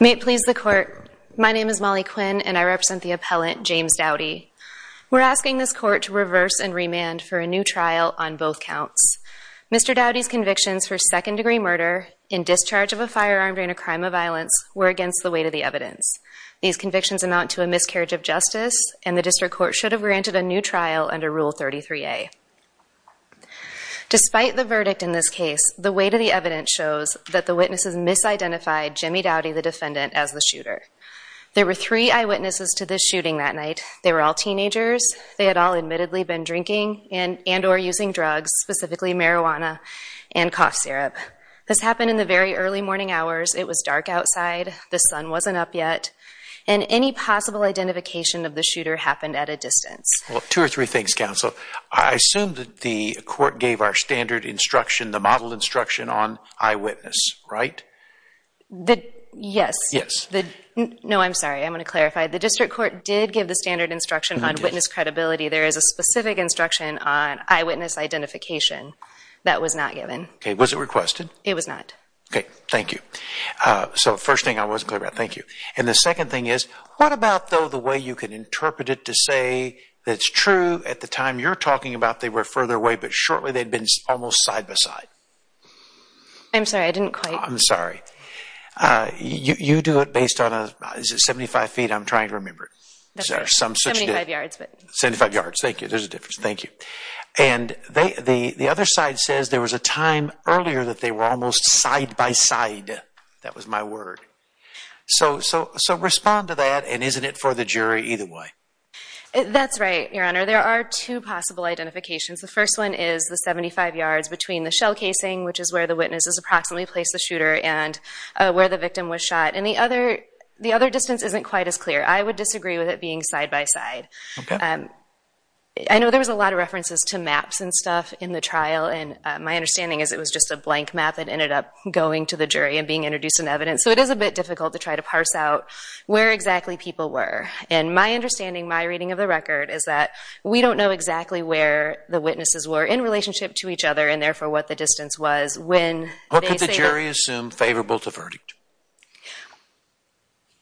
May it please the court, my name is Molly Quinn and I represent the appellant James Dowdy. We're asking this court to reverse and remand for a new trial on both counts. Mr. Dowdy's convictions for second-degree murder in discharge of a firearm during a crime of violence were against the weight of the evidence. These convictions amount to a carriage of justice and the district court should have granted a new trial under Rule 33a. Despite the verdict in this case, the weight of the evidence shows that the witnesses misidentified Jimmy Dowdy, the defendant, as the shooter. There were three eyewitnesses to this shooting that night. They were all teenagers, they had all admittedly been drinking and or using drugs, specifically marijuana and cough syrup. This happened in the very early morning hours, it was dark outside, the sun wasn't up yet, and any possible identification of the shooter happened at a distance. Well, two or three things, counsel. I assume that the court gave our standard instruction, the model instruction, on eyewitness, right? Yes. Yes. No, I'm sorry, I'm going to clarify. The district court did give the standard instruction on witness credibility. There is a specific instruction on eyewitness identification that was not given. Okay, was it requested? It was not. Okay, thank you. So, first thing I wasn't clear about, thank you. And the second thing is, what about, though, the way you can interpret it to say that's true, at the time you're talking about they were further away, but shortly they'd been almost side-by-side? I'm sorry, I didn't quite... I'm sorry. You do it based on, is it 75 feet? I'm trying to remember. 75 yards, but... 75 yards, thank you, there's a difference, thank you. And the other side says there was a time earlier that they were almost side-by-side, that was my word. So, so, so respond to that, and isn't it for the jury either way? That's right, Your Honor. There are two possible identifications. The first one is the 75 yards between the shell casing, which is where the witnesses approximately placed the shooter, and where the victim was shot. And the other, the other distance isn't quite as clear. I would disagree with it being side-by-side. Okay. I know there was a lot of references to maps and stuff in the trial, and my understanding is it was just a blank map that ended up going to the jury and being introduced in evidence, so it is a bit difficult to try to parse out where exactly people were. And my understanding, my reading of the record, is that we don't know exactly where the witnesses were in relationship to each other, and therefore what the distance was when... What could the jury assume favorable to verdict?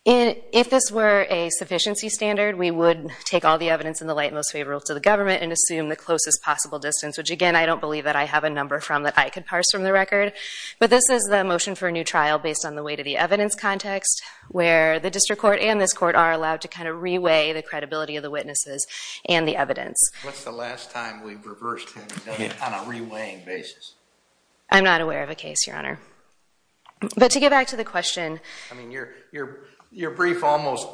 If this were a sufficiency standard, we would take all the evidence in the light most favorable to the government and assume the closest possible distance, which again I don't believe that I have a number from that I could parse from the record, but this is the motion for a new trial based on the weight of the evidence context where the district court and this court are allowed to kind of reweigh the credibility of the witnesses and the evidence. What's the last time we've reversed him on a reweighing basis? I'm not aware of a case, Your Honor. But to get back to the question... I mean, your, your, your brief almost,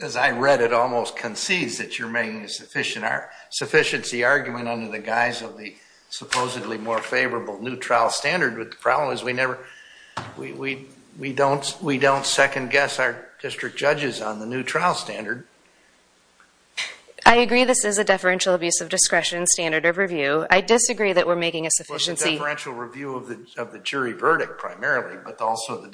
as I read it, almost concedes that you're making a sufficient sufficiency argument under the guise of the supposedly more favorable new trial standard, but the problem is we never, we, we, we don't, we don't second-guess our district judges on the new trial standard. I agree this is a deferential abuse of discretion standard of review. I disagree that we're making a sufficiency... Well, it's a deferential review of the jury verdict primarily, but also the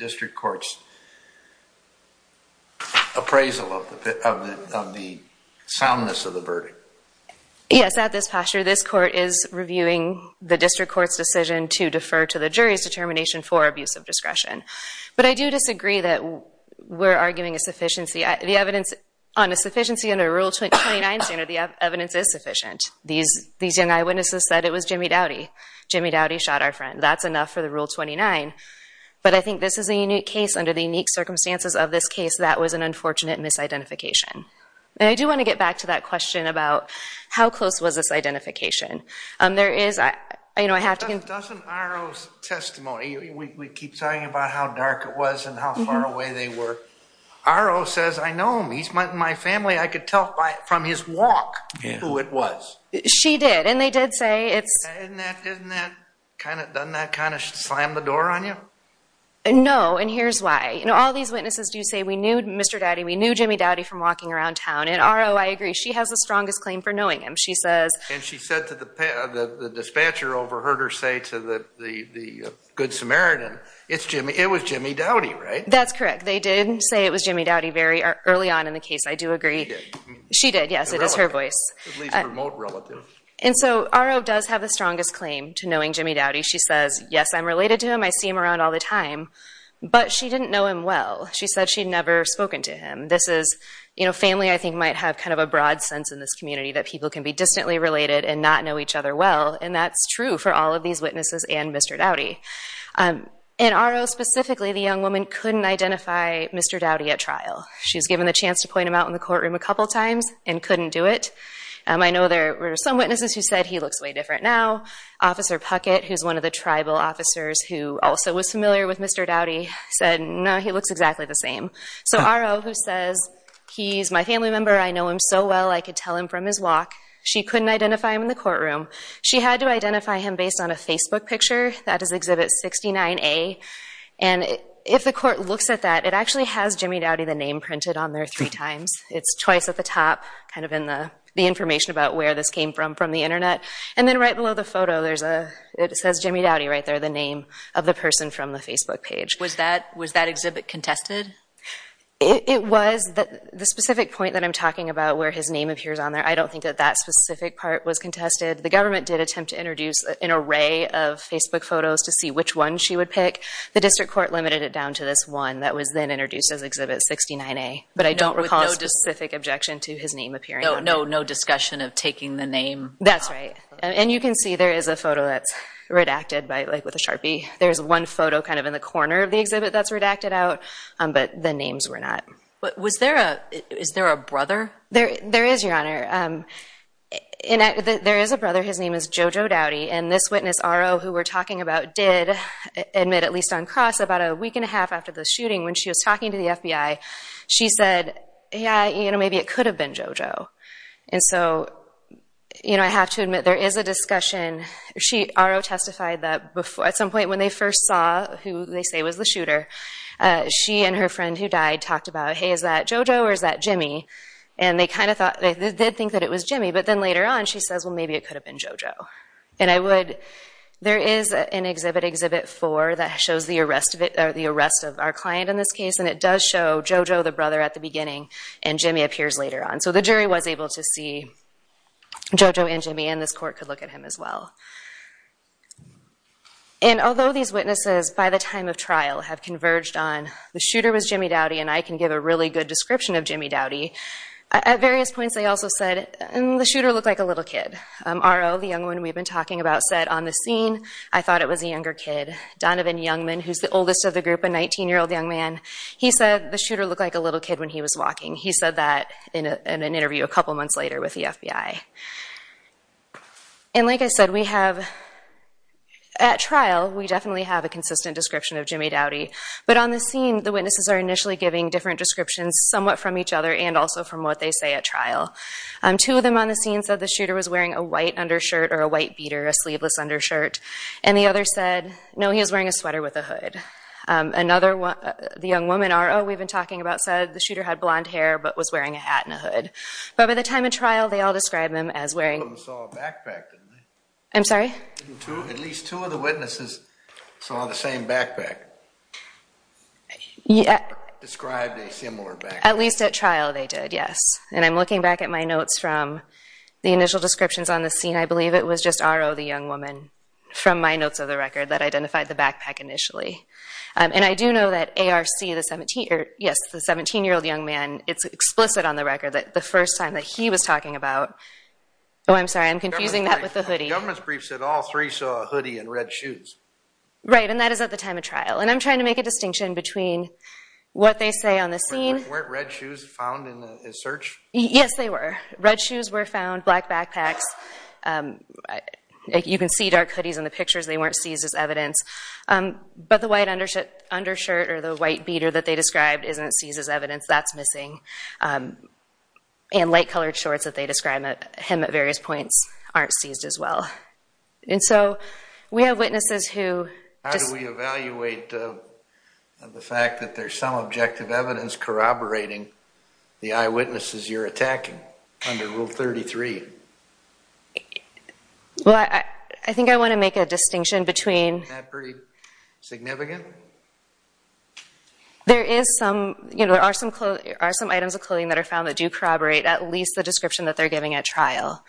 yes, at this posture, this court is reviewing the district court's decision to defer to the jury's determination for abuse of discretion. But I do disagree that we're arguing a sufficiency... the evidence on a sufficiency under Rule 29 standard, the evidence is sufficient. These, these young eyewitnesses said it was Jimmy Doughty. Jimmy Doughty shot our friend. That's enough for the Rule 29, but I think this is a unique case under the unique circumstances of this case that was an unfortunate misidentification. And I do want to get back to that question about how close was this identification. There is, I, you know, I have to... Doesn't RO's testimony, we keep talking about how dark it was and how far away they were. RO says I know him. He's my family. I could tell by, from his walk who it was. She did, and they did say it's... Doesn't that kind of slam the door on you? No, and here's why. You know, all these witnesses do say we knew Mr. Doughty, we knew Jimmy Doughty from walking around town, and RO, I agree, she has the strongest claim for knowing him. She says... And she said to the dispatcher overheard her say to the Good Samaritan, it's Jimmy, it was Jimmy Doughty, right? That's correct. They did say it was Jimmy Doughty very early on in the case, I do agree. She did, yes, it is her voice. And so RO does have the strongest claim to knowing Jimmy Doughty. She says, yes, I'm related to him. I see him around all the time, but she didn't know him well. She said she'd never spoken to him. This is, you know, family I think might have kind of a broad sense in this community that people can be distantly related and not know each other well, and that's true for all of these witnesses and Mr. Doughty. In RO specifically, the young woman couldn't identify Mr. Doughty at trial. She was given the chance to point him out in the courtroom a couple times and couldn't do it. I know there were some witnesses who said he looks way different now. Officer Puckett, who's one of the tribal officers who also was familiar with Mr. Doughty, said no, he looks exactly the same. So RO who says, he's my family member, I know him so well I could tell him from his walk. She couldn't identify him in the courtroom. She had to identify him based on a Facebook picture. That is exhibit 69A, and if the court looks at that, it actually has Jimmy Doughty the name printed on there three times. It's twice at the top, kind of in the information about where this came from from the internet, and then right below the photo there's a, it says Jimmy Doughty right there, the name of the person from the Facebook page. Was that, was that exhibit contested? It was, the specific point that I'm talking about where his name appears on there, I don't think that that specific part was contested. The government did attempt to introduce an array of Facebook photos to see which one she would pick. The district court limited it down to this one that was then introduced as exhibit 69A, but I don't recall a specific objection to his name appearing. No, no discussion of taking the name? That's right, and you can see there is a photo that's redacted by, like, with a Sharpie. There's one photo kind of in the corner of the exhibit that's redacted out, but the names were not. But was there a, is there a brother? There, there is, Your Honor. There is a brother, his name is Jojo Doughty, and this witness, RO, who we're talking about did admit, at least on cross, about a week and a half after the shooting when she was talking to the FBI, she said, yeah, you know, maybe it could have been Jojo. And so, you know, I have to admit, there is a discussion. She, RO, testified that before, at some point when they first saw who they say was the shooter, she and her friend who died talked about, hey, is that Jojo or is that Jimmy? And they kind of thought, they did think that it was Jimmy, but then later on she says, well, maybe it could have been Jojo. And I would, there is an exhibit, exhibit 4, that shows the arrest of it, or the arrest of our client in this case, and it does show Jojo, the brother at the beginning, and Jimmy appears later on. So the jury was able to see Jojo and Jimmy, and this court could look at him as well. And although these witnesses, by the time of trial, have converged on, the shooter was Jimmy Doughty, and I can give a really good description of Jimmy Doughty, at various points they also said, the shooter looked like a little kid. RO, the young one we've been talking about, said on the scene, I thought it was a younger kid. Donovan Youngman, who's the oldest of the group, a 19-year-old young man, he said the shooter looked like a little kid when he was walking. He said that in an interview a couple months later with the FBI. And like I said, we have, at trial, we definitely have a consistent description of Jimmy Doughty, but on the scene, the witnesses are initially giving different descriptions, somewhat from each other, and also from what they say at trial. Two of them on the scene said the shooter was wearing a white undershirt, or a white beater, a sleeveless undershirt, and the other said, no, he was wearing a sweater with a hood. Another one, the young woman, RO, we've been talking about, said the shooter had blonde hair, but was wearing a white beater. At the time of trial, they all described him as wearing... Two of them saw a backpack, didn't they? I'm sorry? At least two of the witnesses saw the same backpack. Yeah. Described a similar backpack. At least at trial, they did, yes. And I'm looking back at my notes from the initial descriptions on the scene, I believe it was just RO, the young woman, from my notes of the record, that identified the backpack initially. And I do know that ARC, the 17, yes, the 17-year-old young man, it's explicit on the record that the first time that he was talking about... Oh, I'm sorry, I'm confusing that with the hoodie. The government's brief said all three saw a hoodie and red shoes. Right, and that is at the time of trial. And I'm trying to make a distinction between what they say on the scene... Weren't red shoes found in the search? Yes, they were. Red shoes were found, black backpacks. You can see dark hoodies in the pictures, they weren't seized as evidence. But the white undershirt or the white beater that they described isn't seized as evidence, that's missing. And light-colored shorts that they describe him at various points aren't seized as well. And so we have witnesses who... How do we evaluate the fact that there's some objective evidence corroborating the eyewitnesses you're attacking under Rule 33? Well, I think I want to make a distinction between... Is that pretty significant? There are some items of clothing that are found that do corroborate at least the description that they're giving at trial.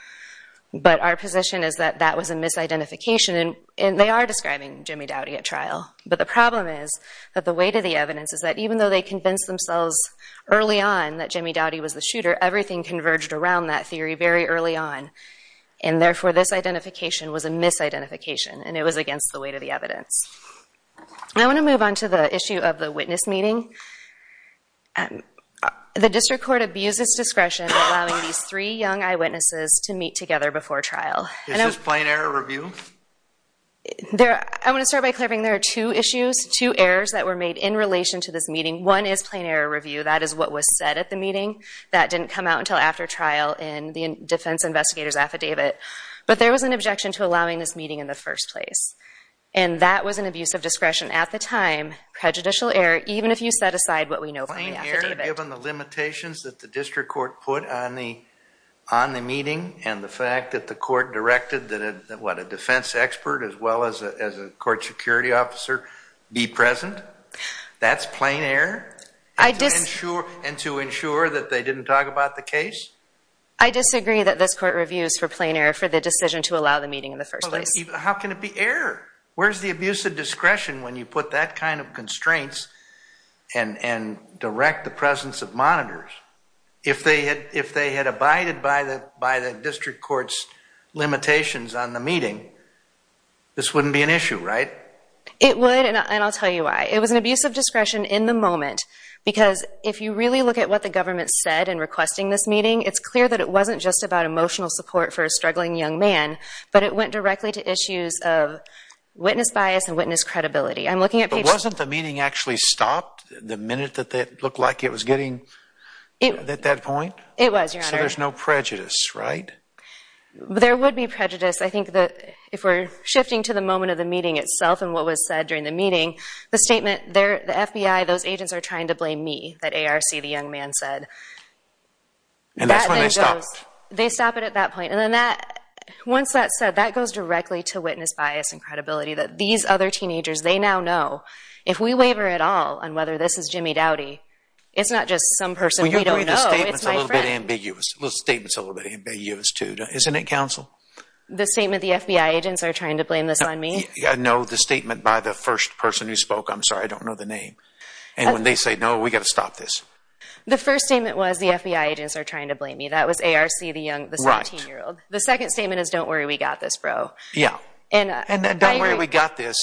But our position is that that was a misidentification, and they are describing Jimmy Doughty at trial. But the problem is that the weight of the evidence is that even though they convinced themselves early on that Jimmy Doughty was the shooter, everything converged around that theory very early on. And therefore, this identification was a misidentification, and it was against the weight of the evidence. I want to move on to the issue of the witness meeting. The district court abuses discretion allowing these three young eyewitnesses to meet together before trial. Is this plain error review? I want to start by clarifying there are two issues, two errors that were made in relation to this meeting. One is plain error review. That is what was said at the meeting. That didn't come out until after trial in the defense investigator's affidavit. But there was an objection to allowing this meeting in the first place. And that was an abuse of discretion at the time, prejudicial error, even if you set aside what we know from the affidavit. Plain error given the limitations that the district court put on the meeting and the fact that the court directed that a defense expert as well as a court security officer be present? That's plain error? I disagree. And to ensure that they didn't talk about the case? I disagree that this court reviews for plain error for the decision to allow the meeting in the first place. How can it be error? Where's the abuse of discretion when you put that kind of constraints and direct the presence of monitors? If they had abided by the district court's limitations on the meeting, this wouldn't be an issue, right? It would, and I'll tell you why. It was an abuse of discretion in the moment because if you really look at what the government said in requesting this meeting, it's clear that it wasn't just about emotional support for a struggling young man, but it went directly to issues of witness bias and witness credibility. But wasn't the meeting actually stopped the minute that it looked like it was getting at that point? It was, Your Honor. So there's no prejudice, right? There would be prejudice. I think if we're shifting to the moment of the meeting itself and what was said during the meeting, the statement, the FBI, those agents are trying to blame me, that ARC, the young man, said. And that's when they stopped? They stop it at that point. And then once that's said, that goes directly to witness bias and credibility, that these other teenagers, they now know. If we waver at all on whether this is Jimmy Doughty, it's not just some person we don't know. Well, Your Honor, the statement's a little bit ambiguous. The statement's a little bit ambiguous, too. Isn't it, counsel? The statement the FBI agents are trying to blame this on me? No, the statement by the first person who spoke. I'm sorry, I don't know the name. And when they say, no, we've got to stop this. The first statement was, the FBI agents are trying to blame me. That was ARC, the 17-year-old. The second statement is, don't worry, we got this, bro. Yeah. And don't worry, we got this.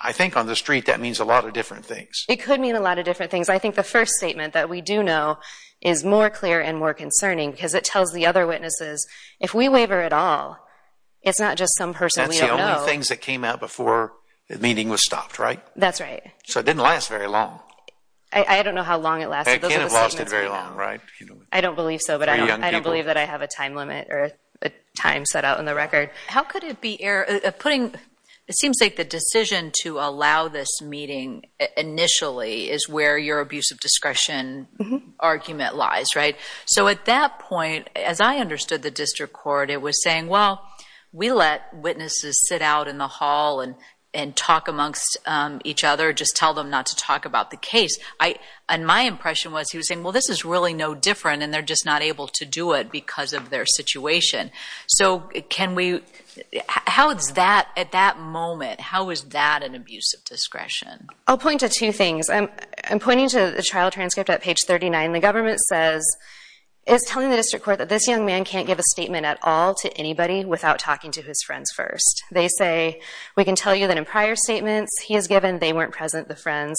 I think on the street that means a lot of different things. It could mean a lot of different things. I think the first statement that we do know is more clear and more concerning it's not just some person we don't know. One of the things that came out before the meeting was stopped, right? That's right. So it didn't last very long. I don't know how long it lasted. It can't have lasted very long, right? I don't believe so, but I don't believe that I have a time limit or a time set out on the record. How could it be putting – it seems like the decision to allow this meeting initially is where your abuse of discretion argument lies, right? So at that point, as I understood the district court, it was saying, well, we let witnesses sit out in the hall and talk amongst each other, just tell them not to talk about the case. And my impression was he was saying, well, this is really no different, and they're just not able to do it because of their situation. So can we – how is that, at that moment, how is that an abuse of discretion? I'll point to two things. I'm pointing to the trial transcript at page 39. The government says it's telling the district court that this young man can't give a statement at all to anybody without talking to his friends first. They say, we can tell you that in prior statements he has given, they weren't present, the friends.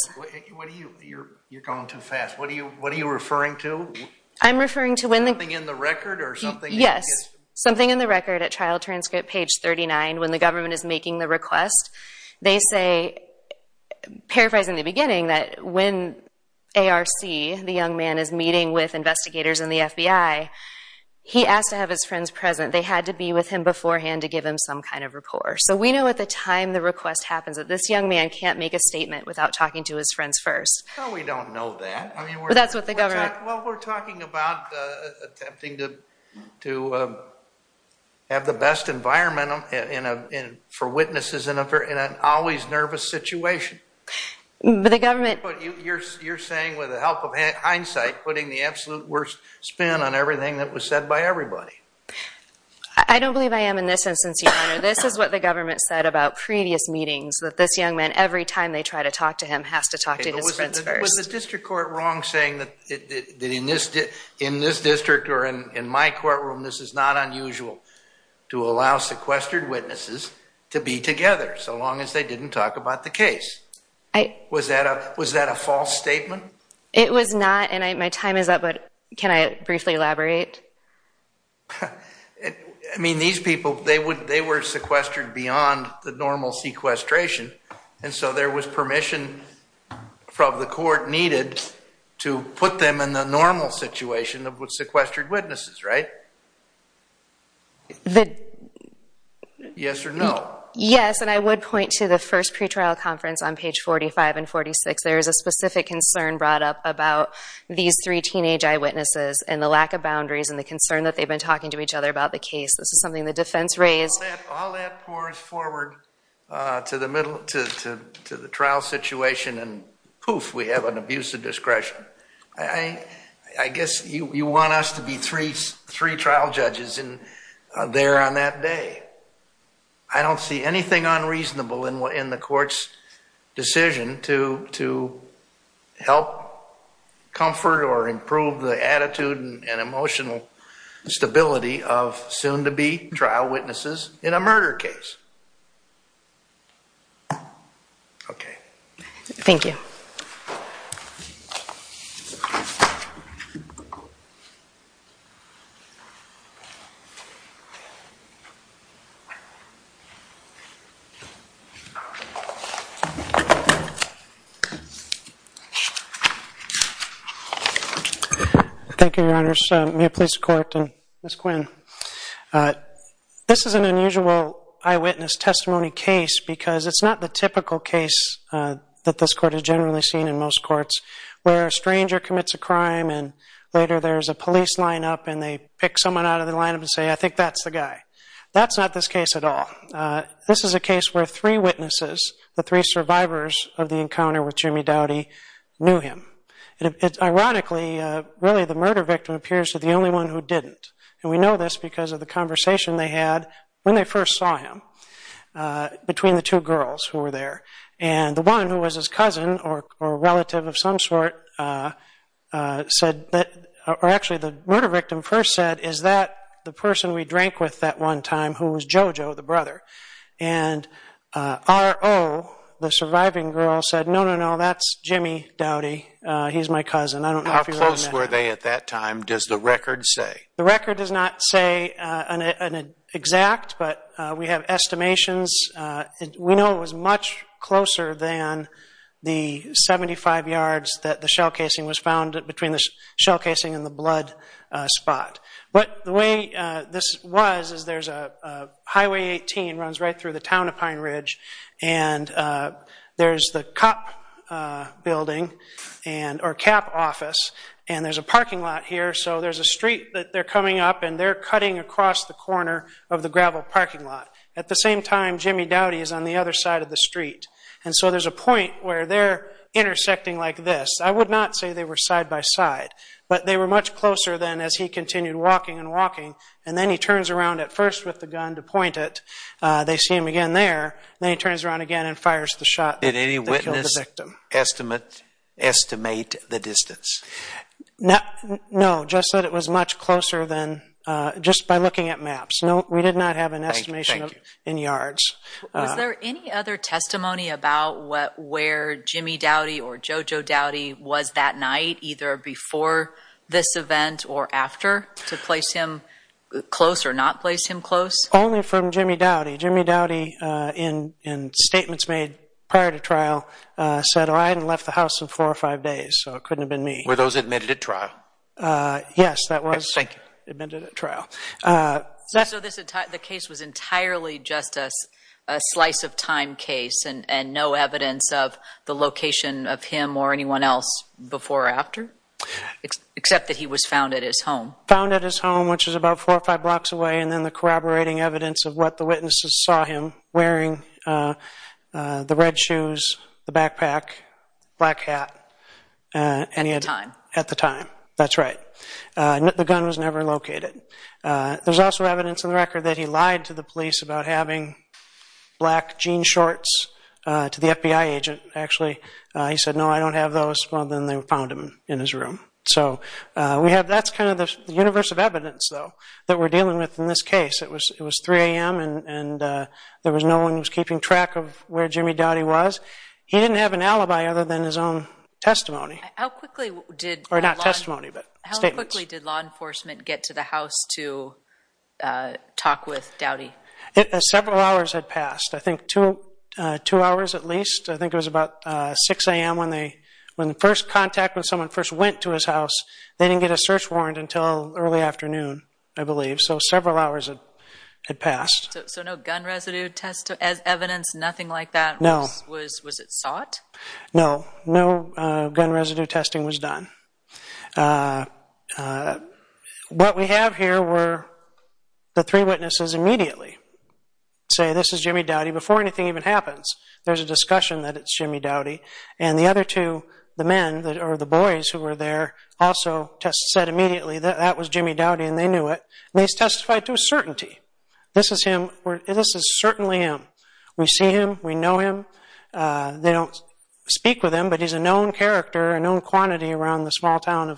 You're going too fast. What are you referring to? I'm referring to when the – Something in the record or something? Yes, something in the record at trial transcript page 39, when the government is making the request. They say, paraphrasing the beginning, that when ARC, the young man is meeting with investigators in the FBI, he asked to have his friends present. They had to be with him beforehand to give him some kind of rapport. So we know at the time the request happens that this young man can't make a statement without talking to his friends first. No, we don't know that. That's what the government – Well, we're talking about attempting to have the best environment for witnesses in an always nervous situation. But the government – You're saying with the help of hindsight, putting the absolute worst spin on everything that was said by everybody. I don't believe I am in this instance, Your Honor. This is what the government said about previous meetings, that this young man, every time they try to talk to him, has to talk to his friends first. Was the district court wrong saying that in this district or in my courtroom this is not unusual to allow sequestered witnesses to be together so long as they didn't talk about the case? Was that a false statement? It was not, and my time is up, but can I briefly elaborate? I mean, these people, they were sequestered beyond the normal sequestration, and so there was permission from the court needed to put them in the normal situation of sequestered witnesses, right? Yes or no? Yes, and I would point to the first pretrial conference on page 45 and 46. There is a specific concern brought up about these three teenage eyewitnesses and the lack of boundaries and the concern that they've been talking to each other about the case. This is something the defense raised. All that pours forward to the trial situation, and poof, we have an abuse of discretion. I guess you want us to be three trial judges there on that day. I don't see anything unreasonable in the court's decision to help comfort or improve the attitude and emotional stability of soon-to-be trial witnesses in a murder case. Okay. Thank you. Thank you. Thank you, Your Honors. May it please the court and Ms. Quinn. This is an unusual eyewitness testimony case because it's not the typical case that this court has generally seen in most courts where a stranger commits a crime and later there's a police lineup and they pick someone out of the lineup and say, I think that's the guy. That's not this case at all. This is a case where three witnesses, the three survivors of the encounter with Jimmy Doughty, knew him. Ironically, really the murder victim appears to be the only one who didn't, and we know this because of the conversation they had when they first saw him between the two girls who were there. And the one who was his cousin or relative of some sort said, or actually the murder victim first said, is that the person we drank with that one time who was JoJo, the brother? And RO, the surviving girl, said, no, no, no, that's Jimmy Doughty. He's my cousin. I don't know if you recognize him. How close were they at that time, does the record say? The record does not say an exact, but we have estimations. We know it was much closer than the 75 yards that the shell casing was found between the shell casing and the blood spot. But the way this was is there's a Highway 18, runs right through the town of Pine Ridge, and there's the COP building or CAP office, and there's a parking lot here. So there's a street that they're coming up, and they're cutting across the corner of the gravel parking lot. At the same time, Jimmy Doughty is on the other side of the street. And so there's a point where they're intersecting like this. I would not say they were side by side, but they were much closer than as he continued walking and walking. And then he turns around at first with the gun to point it. They see him again there. Then he turns around again and fires the shot that killed the victim. Did any witness estimate the distance? No, Jeff said it was much closer than just by looking at maps. No, we did not have an estimation in yards. Was there any other testimony about where Jimmy Doughty or JoJo Doughty was that night, either before this event or after, to place him close or not place him close? Only from Jimmy Doughty. Jimmy Doughty, in statements made prior to trial, said, I hadn't left the house in four or five days, so it couldn't have been me. Were those admitted at trial? Yes, that was admitted at trial. So the case was entirely just a slice of time case and no evidence of the location of him or anyone else before or after, except that he was found at his home? Found at his home, which was about four or five blocks away, and then the corroborating evidence of what the witnesses saw him wearing, the red shoes, the backpack, black hat. At the time? At the time, that's right. The gun was never located. There's also evidence in the record that he lied to the police about having black jean shorts to the FBI agent. Actually, he said, no, I don't have those. Well, then they found them in his room. So that's kind of the universe of evidence, though, that we're dealing with in this case. It was 3 a.m. and there was no one who was keeping track of where Jimmy Doughty was. He didn't have an alibi other than his own testimony. How quickly did law enforcement get to the house to talk with Doughty? Several hours had passed, I think two hours at least. I think it was about 6 a.m. when the first contact, when someone first went to his house, they didn't get a search warrant until early afternoon, I believe. So several hours had passed. So no gun residue evidence, nothing like that? No. Was it sought? No. No gun residue testing was done. What we have here were the three witnesses immediately say, this is Jimmy Doughty before anything even happens. There's a discussion that it's Jimmy Doughty. And the other two, the men or the boys who were there, also said immediately that that was Jimmy Doughty and they knew it. They testified to a certainty. This is him. This is certainly him. We see him. We know him. They don't speak with him, but he's a known character, a known quantity around the small town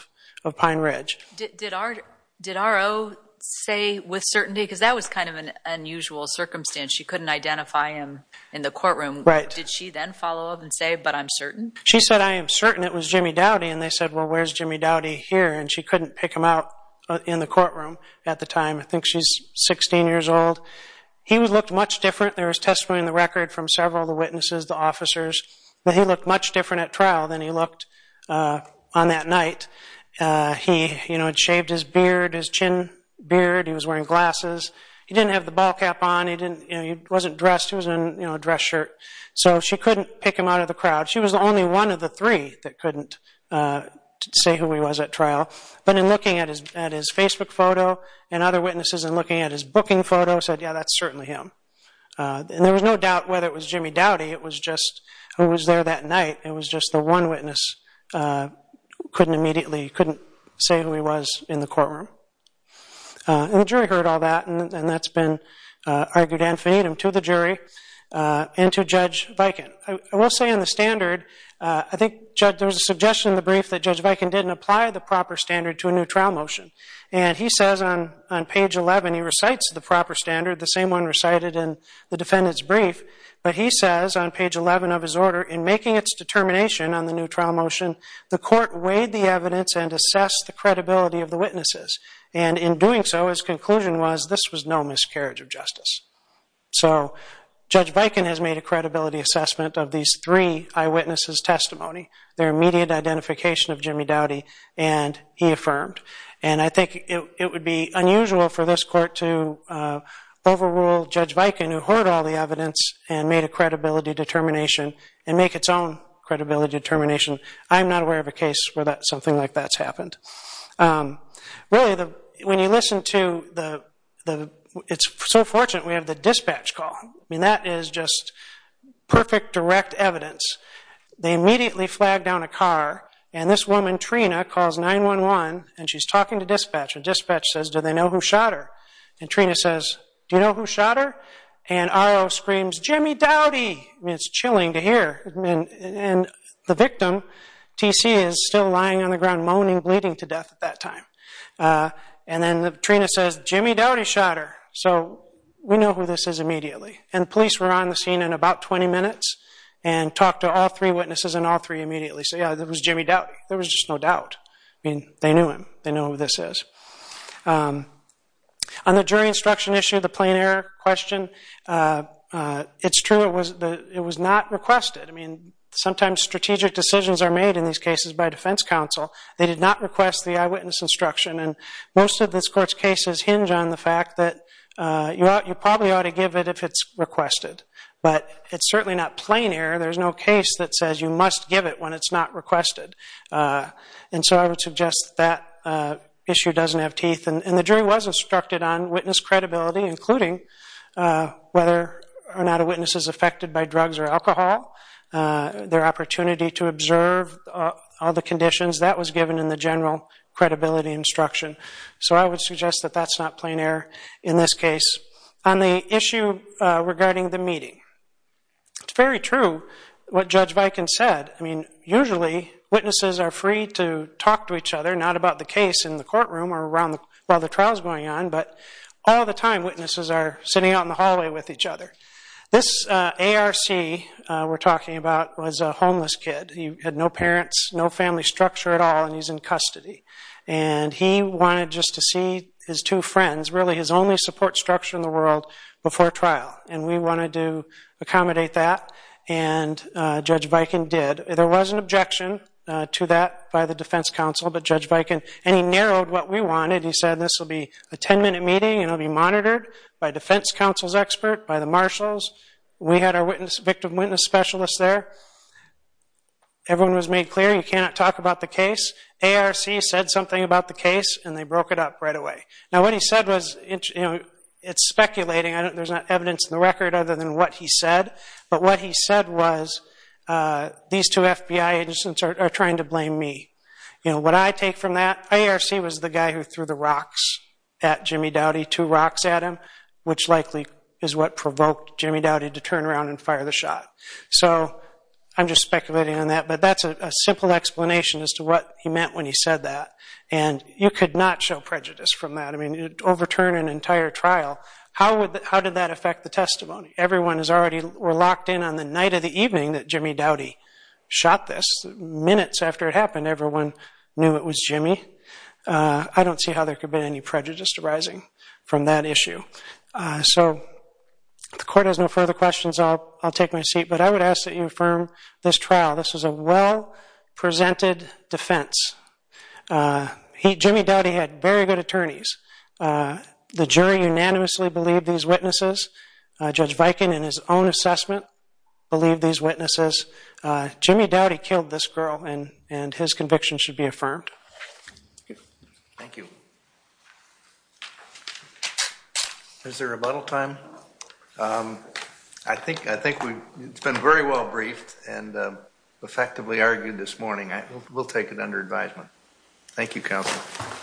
of Pine Ridge. Did R.O. say with certainty? Because that was kind of an unusual circumstance. She couldn't identify him in the courtroom. Right. Did she then follow up and say, but I'm certain? She said, I am certain it was Jimmy Doughty. And they said, well, where's Jimmy Doughty here? And she couldn't pick him out in the courtroom at the time. I think she's 16 years old. He looked much different. There was testimony in the record from several of the witnesses, the officers, that he looked much different at trial than he looked on that night. He had shaved his beard, his chin beard. He was wearing glasses. He didn't have the ball cap on. He wasn't dressed. He was in a dress shirt. So she couldn't pick him out of the crowd. She was only one of the three that couldn't say who he was at trial. But in looking at his Facebook photo and other witnesses and looking at his booking photo, said, yeah, that's certainly him. And there was no doubt whether it was Jimmy Doughty. It was just who was there that night. It was just the one witness couldn't immediately say who he was in the courtroom. And the jury heard all that, and that's been argued infinitum to the jury and to Judge Viken. I will say in the standard, I think there was a suggestion in the brief that Judge Viken didn't apply the proper standard to a new trial motion. And he says on page 11, he recites the proper standard, the same one recited in the defendant's brief. But he says on page 11 of his order, in making its determination on the new trial motion, the court weighed the evidence and assessed the credibility of the witnesses. And in doing so, his conclusion was this was no miscarriage of justice. So Judge Viken has made a credibility assessment of these three eyewitnesses' testimony, their immediate identification of Jimmy Doughty, and he affirmed. And I think it would be unusual for this court to overrule Judge Viken, who heard all the evidence and made a credibility determination and make its own credibility determination. I'm not aware of a case where something like that's happened. Really, when you listen to the – it's so fortunate we have the dispatch call. I mean, that is just perfect direct evidence. They immediately flag down a car, and this woman, Trina, calls 911, and she's talking to dispatch. And dispatch says, do they know who shot her? And Trina says, do you know who shot her? And R.O. screams, Jimmy Doughty. I mean, it's chilling to hear. And the victim, T.C., is still lying on the ground moaning, bleeding to death at that time. And then Trina says, Jimmy Doughty shot her. So we know who this is immediately. And the police were on the scene in about 20 minutes and talked to all three witnesses and all three immediately. So, yeah, it was Jimmy Doughty. There was just no doubt. I mean, they knew him. They know who this is. On the jury instruction issue, the plain error question, it's true it was not requested. I mean, sometimes strategic decisions are made in these cases by defense counsel. They did not request the eyewitness instruction. And most of this court's cases hinge on the fact that you probably ought to give it if it's requested. But it's certainly not plain error. There's no case that says you must give it when it's not requested. And so I would suggest that issue doesn't have teeth. And the jury was instructed on witness credibility, including whether or not a witness is affected by drugs or alcohol, their opportunity to observe all the conditions. That was given in the general credibility instruction. So I would suggest that that's not plain error in this case. On the issue regarding the meeting, it's very true what Judge Viken said. I mean, usually witnesses are free to talk to each other, not about the case in the courtroom or while the trial is going on, but all the time witnesses are sitting out in the hallway with each other. This ARC we're talking about was a homeless kid. He had no parents, no family structure at all, and he's in custody. And he wanted just to see his two friends. Really, his only support structure in the world before trial, and we wanted to accommodate that, and Judge Viken did. There was an objection to that by the defense counsel, but Judge Viken – and he narrowed what we wanted. He said this will be a ten-minute meeting, and it will be monitored by defense counsel's expert, by the marshals. We had our victim witness specialist there. Everyone was made clear you cannot talk about the case. ARC said something about the case, and they broke it up right away. Now, what he said was – it's speculating. There's not evidence in the record other than what he said, but what he said was these two FBI agents are trying to blame me. What I take from that, ARC was the guy who threw the rocks at Jimmy Dowdy, two rocks at him, which likely is what provoked Jimmy Dowdy to turn around and fire the shot. So I'm just speculating on that, but that's a simple explanation as to what he meant when he said that. And you could not show prejudice from that. I mean, it would overturn an entire trial. How did that affect the testimony? Everyone was already locked in on the night of the evening that Jimmy Dowdy shot this. Minutes after it happened, everyone knew it was Jimmy. I don't see how there could have been any prejudice arising from that issue. So if the Court has no further questions, I'll take my seat. But I would ask that you affirm this trial. This was a well-presented defense. Jimmy Dowdy had very good attorneys. The jury unanimously believed these witnesses. Judge Viken, in his own assessment, believed these witnesses. Jimmy Dowdy killed this girl, and his conviction should be affirmed. Thank you. Is there a rebuttal time? I think it's been very well briefed and effectively argued this morning. We'll take it under advisement. Thank you, Counsel.